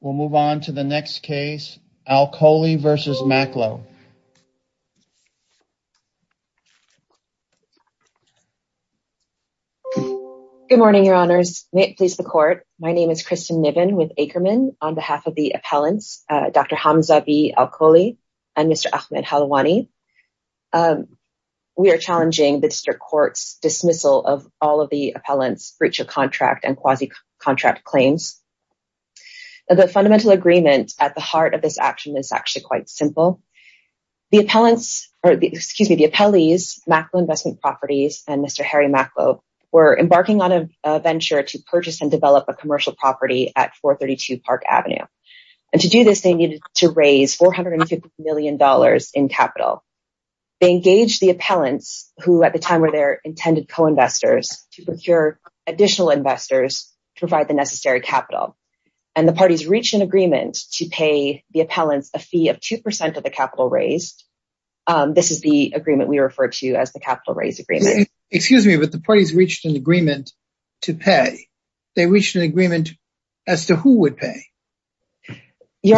We'll move on to the next case, Alkholi v. Macklowe. Good morning, your honors. May it please the court, my name is Kristen Niven with Ackerman on behalf of the appellants, Dr. Hamza B. Alkholi and Mr. Ahmed Helwani. We are challenging the district court's dismissal of all of the appellants' breach contract and quasi-contract claims. The fundamental agreement at the heart of this action is actually quite simple. The appellees, Macklowe Investment Properties, and Mr. Harry Macklowe were embarking on a venture to purchase and develop a commercial property at 432 Park Avenue. To do this, they needed to raise $450 million in capital. They engaged the appellants, who at the time were their intended co-investors, to procure additional investors to provide the necessary capital. The parties reached an agreement to pay the appellants a fee of 2% of the capital raised. This is the agreement we refer to as the capital raise agreement. Excuse me, but the parties reached an agreement to pay. They reached an agreement as to who would benefit from the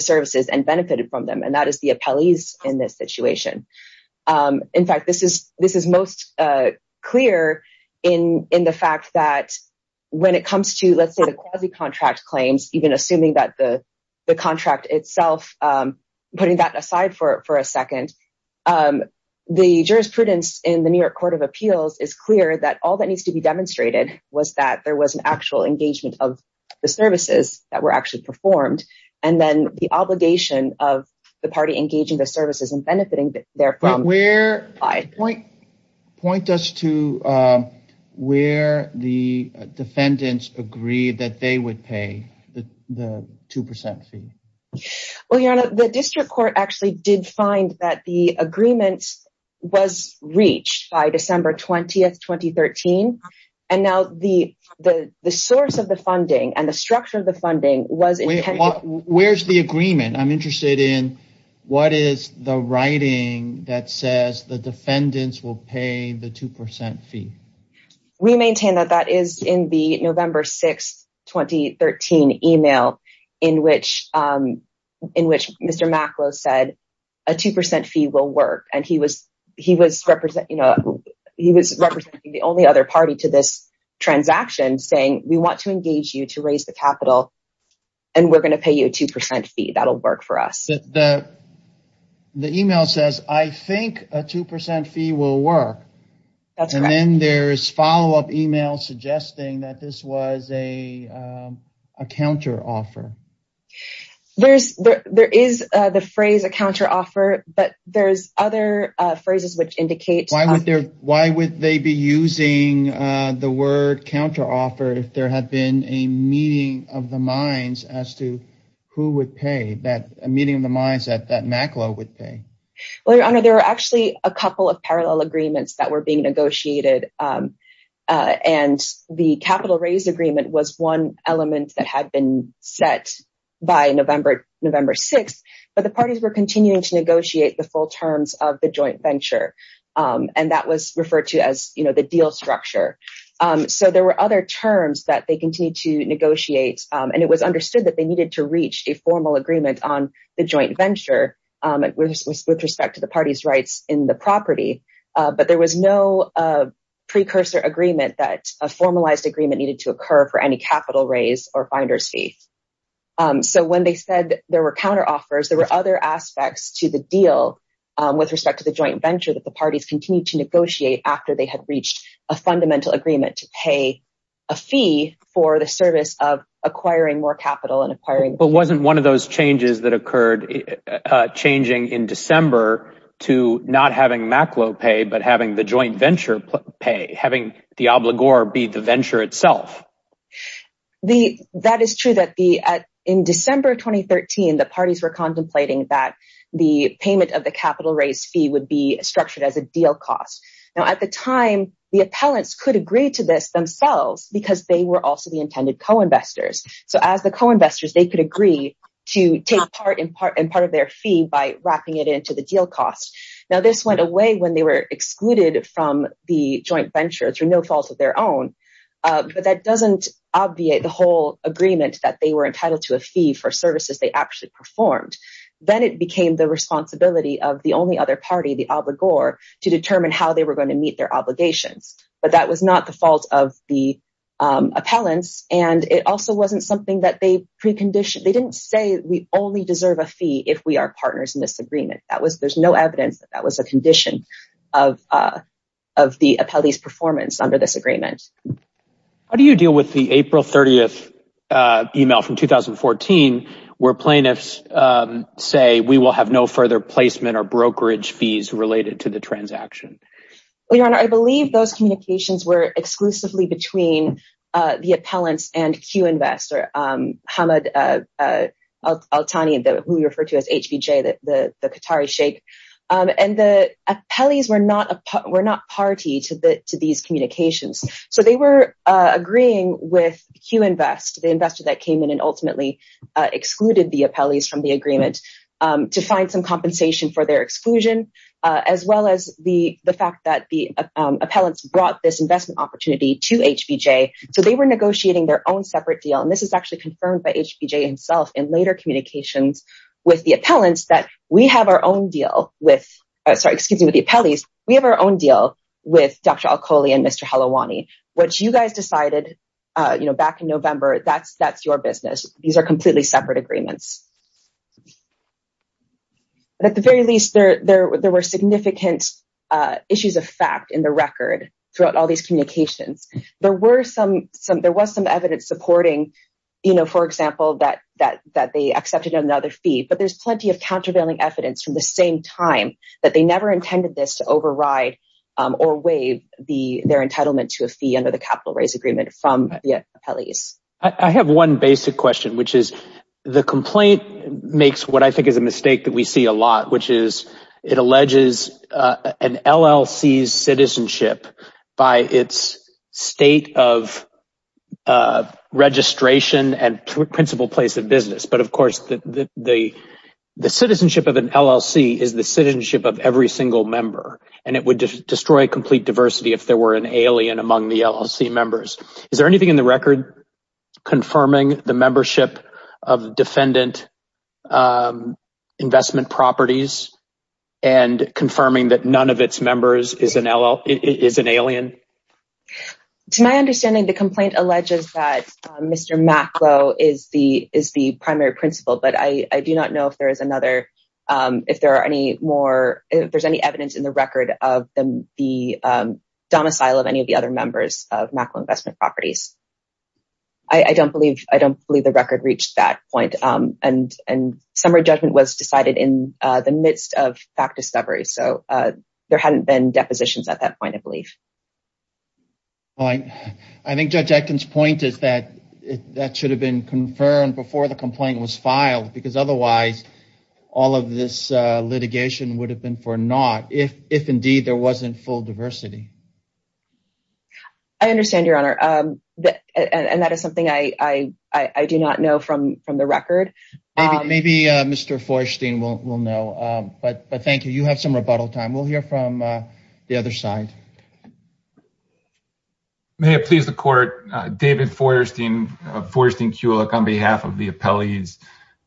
services. That is the appellees in this situation. In fact, this is most clear in the fact that when it comes to, let's say, the quasi-contract claims, even assuming that the contract itself, putting that aside for a second, the jurisprudence in the New York Court of Appeals is clear that all that needs to be demonstrated was that there was an actual engagement of the services that were actually performed, and then the obligation of the party engaging the services and benefiting therefrom. Point us to where the defendants agreed that they would pay the 2% fee. Well, Your Honor, the district court actually did find that the agreement was reached by December 20th, 2013, and now the source of the funding and the structure of the funding was intended... Where's the agreement? I'm interested in what is the writing that says the defendants will pay the 2% fee. We maintain that that is in the November 6th, 2013 email in which Mr. Macklowe said a 2% fee will work, and he was representing the only other party to this transaction saying, we want to engage you to raise the capital, and we're going to pay you a 2% fee. That'll work for us. The email says, I think a 2% fee will work, and then there's follow-up email suggesting that this was a counteroffer. There is the phrase a counteroffer, but there's other phrases which indicate... Why would they be using the word counteroffer if there had been a meeting of the minds as to who would pay, a meeting of the minds that Macklowe would pay? Well, Your Honor, there were actually a couple of parallel agreements that were being negotiated, and the capital raise agreement was one element that had been set by November 6th, but the parties were continuing to negotiate the full terms of the joint venture, and that was referred to as the deal structure. There were other terms that they continued to negotiate, and it was understood that they needed to reach a formal agreement on the joint venture with respect to the party's in the property, but there was no precursor agreement that a formalized agreement needed to occur for any capital raise or finder's fee. So when they said there were counteroffers, there were other aspects to the deal with respect to the joint venture that the parties continued to negotiate after they had reached a fundamental agreement to pay a fee for the service of acquiring more capital and acquiring... But wasn't one of those changes that occurred changing in December to not having Macklowe pay, but having the joint venture pay, having the obligor be the venture itself? That is true. In December 2013, the parties were contemplating that the payment of the capital raise fee would be structured as a deal cost. Now, at the time, the appellants could agree to this themselves because they were also the fee by wrapping it into the deal cost. Now, this went away when they were excluded from the joint venture through no fault of their own, but that doesn't obviate the whole agreement that they were entitled to a fee for services they actually performed. Then it became the responsibility of the only other party, the obligor, to determine how they were going to meet their obligations. But that was not the fault of the appellants, and it also wasn't something that they didn't say, we only deserve a fee if we are partners in this agreement. There's no evidence that that was a condition of the appellee's performance under this agreement. How do you deal with the April 30th email from 2014 where plaintiffs say, we will have no further placement or brokerage fees related to the transaction? Well, your honor, I believe those communications were exclusively between the appellants and Q-Invest, or Hamad Al-Tani, who we refer to as HBJ, the Qatari shake. And the appellees were not party to these communications. So they were agreeing with Q-Invest, the investor that came in and ultimately excluded the appellees from the agreement, to find some compensation for their exclusion, as well as the fact that the to HBJ. So they were negotiating their own separate deal. And this is actually confirmed by HBJ himself in later communications with the appellants that we have our own deal with, sorry, excuse me, with the appellees. We have our own deal with Dr. Al-Kholi and Mr. Helawani, which you guys decided back in November, that's your business. These are completely separate agreements. At the very least, there were significant issues of fact in the record throughout all these communications. There was some evidence supporting, for example, that they accepted another fee, but there's plenty of countervailing evidence from the same time that they never intended this to override or waive their entitlement to a fee under the capital raise agreement from the appellees. I have one basic question, which is the complaint makes what I think is a mistake that we see a lot, which is it alleges an LLC's by its state of registration and principal place of business. But of course, the citizenship of an LLC is the citizenship of every single member, and it would destroy complete diversity if there were an alien among the LLC members. Is there anything in the record confirming the membership of defendant investment properties and confirming that none of its LLC members is an alien? To my understanding, the complaint alleges that Mr. Maklo is the primary principal, but I do not know if there's any evidence in the record of the domicile of any of the other members of Maklo Investment Properties. I don't believe the record reached that point, and summary judgment was decided in the midst of fact discovery, so there hadn't been depositions at that point, I believe. I think Judge Aitken's point is that that should have been confirmed before the complaint was filed, because otherwise all of this litigation would have been for naught if indeed there wasn't full diversity. I understand, Your Honor, and that is something I do not know from the record. Maybe Mr. Feuerstein will know, but thank you. You have some rebuttal time. We'll hear from the other side. May it please the Court. David Feuerstein, Feuerstein-Kulik, on behalf of the appellees.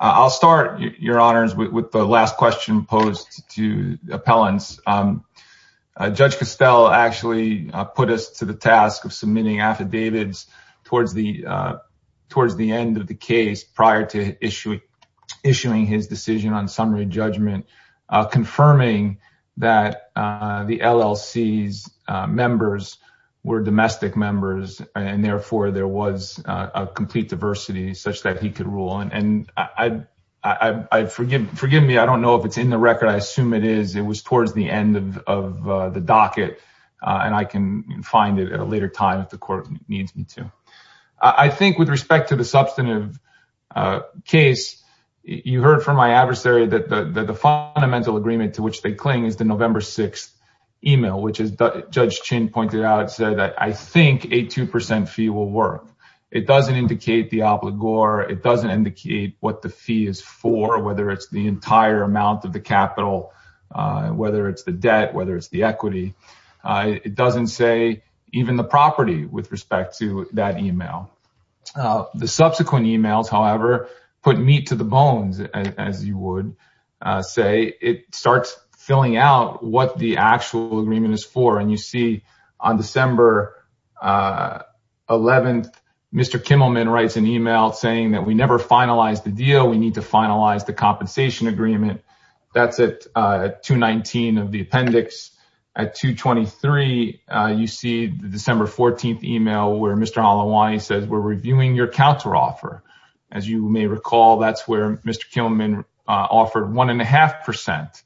I'll start, Your Honors, with the last question posed to the appellants. Judge Castell actually put us to the task of submitting affidavits towards the end of the case prior to issuing his decision on summary judgment, confirming that the LLC's members were domestic members, and therefore there was a complete diversity such that he could rule. And forgive me, I don't know if it's in the record. I assume it is. It was towards the end of the case. I think with respect to the substantive case, you heard from my adversary that the fundamental agreement to which they cling is the November 6th email, which, as Judge Chin pointed out, said that I think a 2% fee will work. It doesn't indicate the obligor. It doesn't indicate what the fee is for, whether it's the entire amount of the capital, whether it's the debt, whether it's the equity. It doesn't say even the property with respect to that email. The subsequent emails, however, put meat to the bones, as you would say. It starts filling out what the actual agreement is for, and you see on December 11th, Mr. Kimmelman writes an email saying that we never finalized the deal. We need to finalize the compensation agreement. That's at 2-19 of the appendix. At 2-23, you see the December 14th email where Mr. Halawani says we're reviewing your counteroffer. As you may recall, that's where Mr. Kimmelman offered 1.5%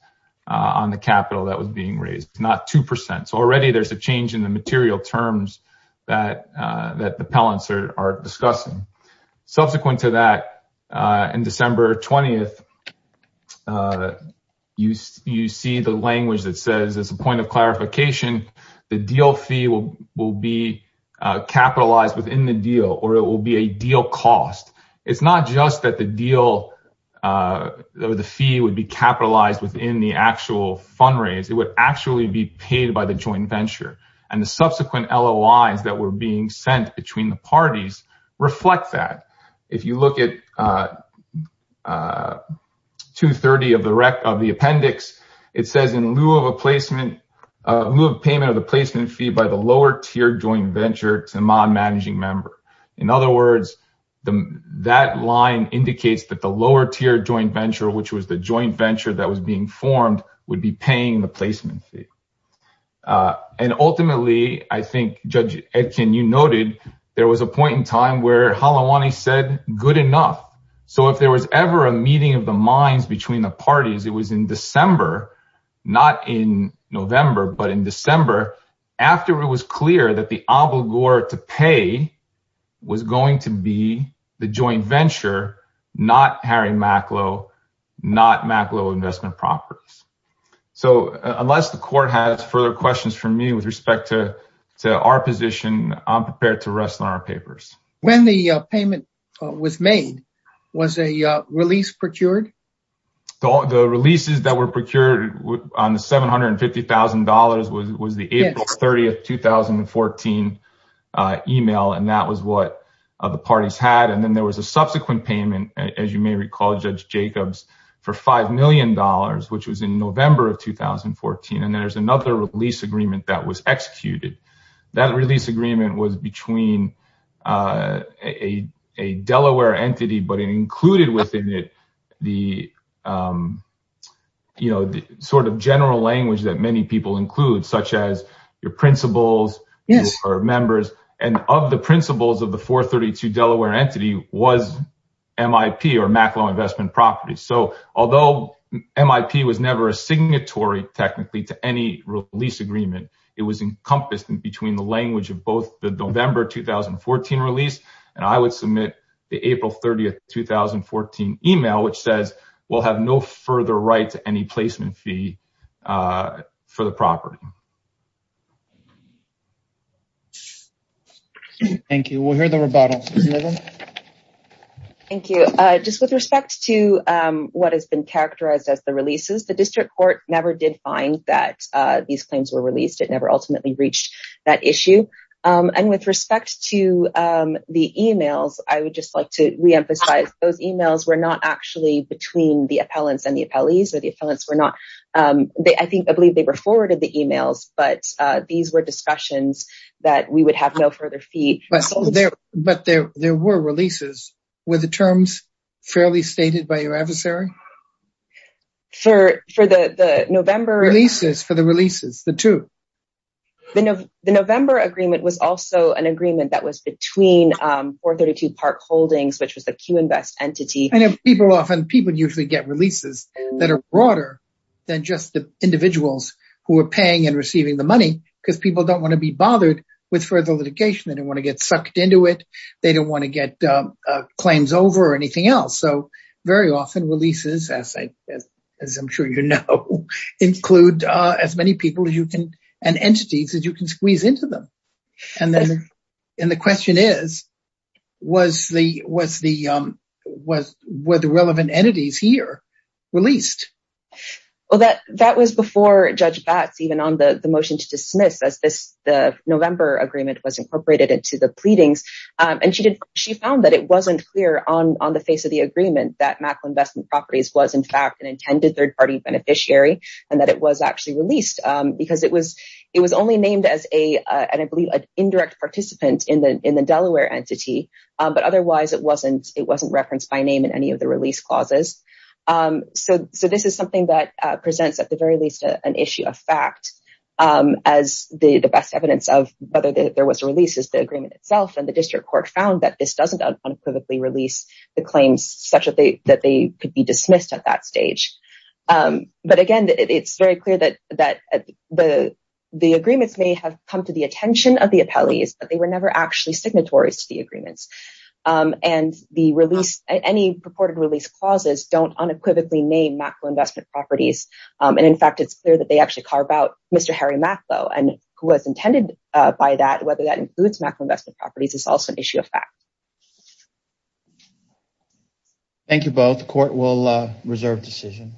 on the capital that was being raised, not 2%. So already there's a change in the material terms that the appellants are discussing. Subsequent to that, on December 20th, you see the language that says, as a point of clarification, the deal fee will be capitalized within the deal, or it will be a deal cost. It's not just that the fee would be capitalized within the actual fundraise. It would actually be paid by the joint venture, and the subsequent LOIs that were being sent between the parties reflect that. If you look at 2-30 of the appendix, it says, in lieu of payment of the placement fee by the lower-tier joint venture, it's a non-managing member. In other words, that line indicates that the lower-tier joint venture, which was the joint venture that was being formed, would be paying the placement fee. And ultimately, I think, Judge Etkin, you noted there was a point in time where Halawani said, good enough. So if there was ever a meeting of the minds between the parties, it was in December, not in November, but in December, after it was clear that the obligor to pay was going to be the joint venture, not Harry Macklowe, not Macklowe Investment Properties. So unless the Court has further questions for me with respect to our position, I'm prepared to rest on our papers. When the payment was made, was a release procured? The releases that were procured on the $750,000 was the April 30, 2014 email, and that was what the parties had. And then there was a subsequent payment, as you may recall, Judge Jacobs, for $5 million, which was in November of 2014. And there's another release agreement that was executed. That release agreement was between a Delaware entity, but it included within it the, you know, the sort of general language that many people include, such as your principals or members. And of the principals of the 432 Delaware entity was MIP or Macklowe Investment Properties. So although MIP was never a signatory technically to any release agreement, it was encompassed in between the language of both the November 2014 release, and I would submit the April 30, 2014 email, which says we'll have no further right to any placement fee for the property. Thank you. We'll hear the rebuttal. Thank you. Just with respect to what has been characterized as the releases, the District Court never did find that these claims were released. It never ultimately reached that issue. And with respect to the emails, I would just like to re-emphasize those emails were not actually between the appellants and the appellees, or the appellants were not. I think, I believe they were forwarded the emails, but these were discussions that we would have no further fee. But there were releases. Were the terms fairly stated by your adversary? For the November... Releases, for the releases, the two. The November agreement was also an agreement that was between 432 Park Holdings, which was the Q-Invest entity. And people often, people usually get releases that are broader than just the individuals who are paying and receiving the money, because people don't want to be bothered with further litigation. They don't want to get sucked into it. They don't want to get claims over or anything else. So very often releases, as I'm sure you know, include as many people as you can, and entities that you can squeeze into them. And the question is, were the relevant entities here released? Well, that was before Judge Batts, even on the motion to dismiss as the November agreement was incorporated into the pleadings. And she found that it wasn't clear on the agreement that Mackle Investment Properties was, in fact, an intended third-party beneficiary, and that it was actually released because it was only named as an indirect participant in the Delaware entity. But otherwise, it wasn't referenced by name in any of the release clauses. So this is something that presents, at the very least, an issue of fact as the best evidence of whether there was a release is the agreement itself. And the district court found that this unequivocally released the claims such that they could be dismissed at that stage. But again, it's very clear that the agreements may have come to the attention of the appellees, but they were never actually signatories to the agreements. And any purported release clauses don't unequivocally name Mackle Investment Properties. And in fact, it's clear that they actually carve out Mr. Harry Mackle, and who was intended by that, whether that includes Mackle Investment Properties, is also an issue of fact. Thank you both. The court will reserve decision.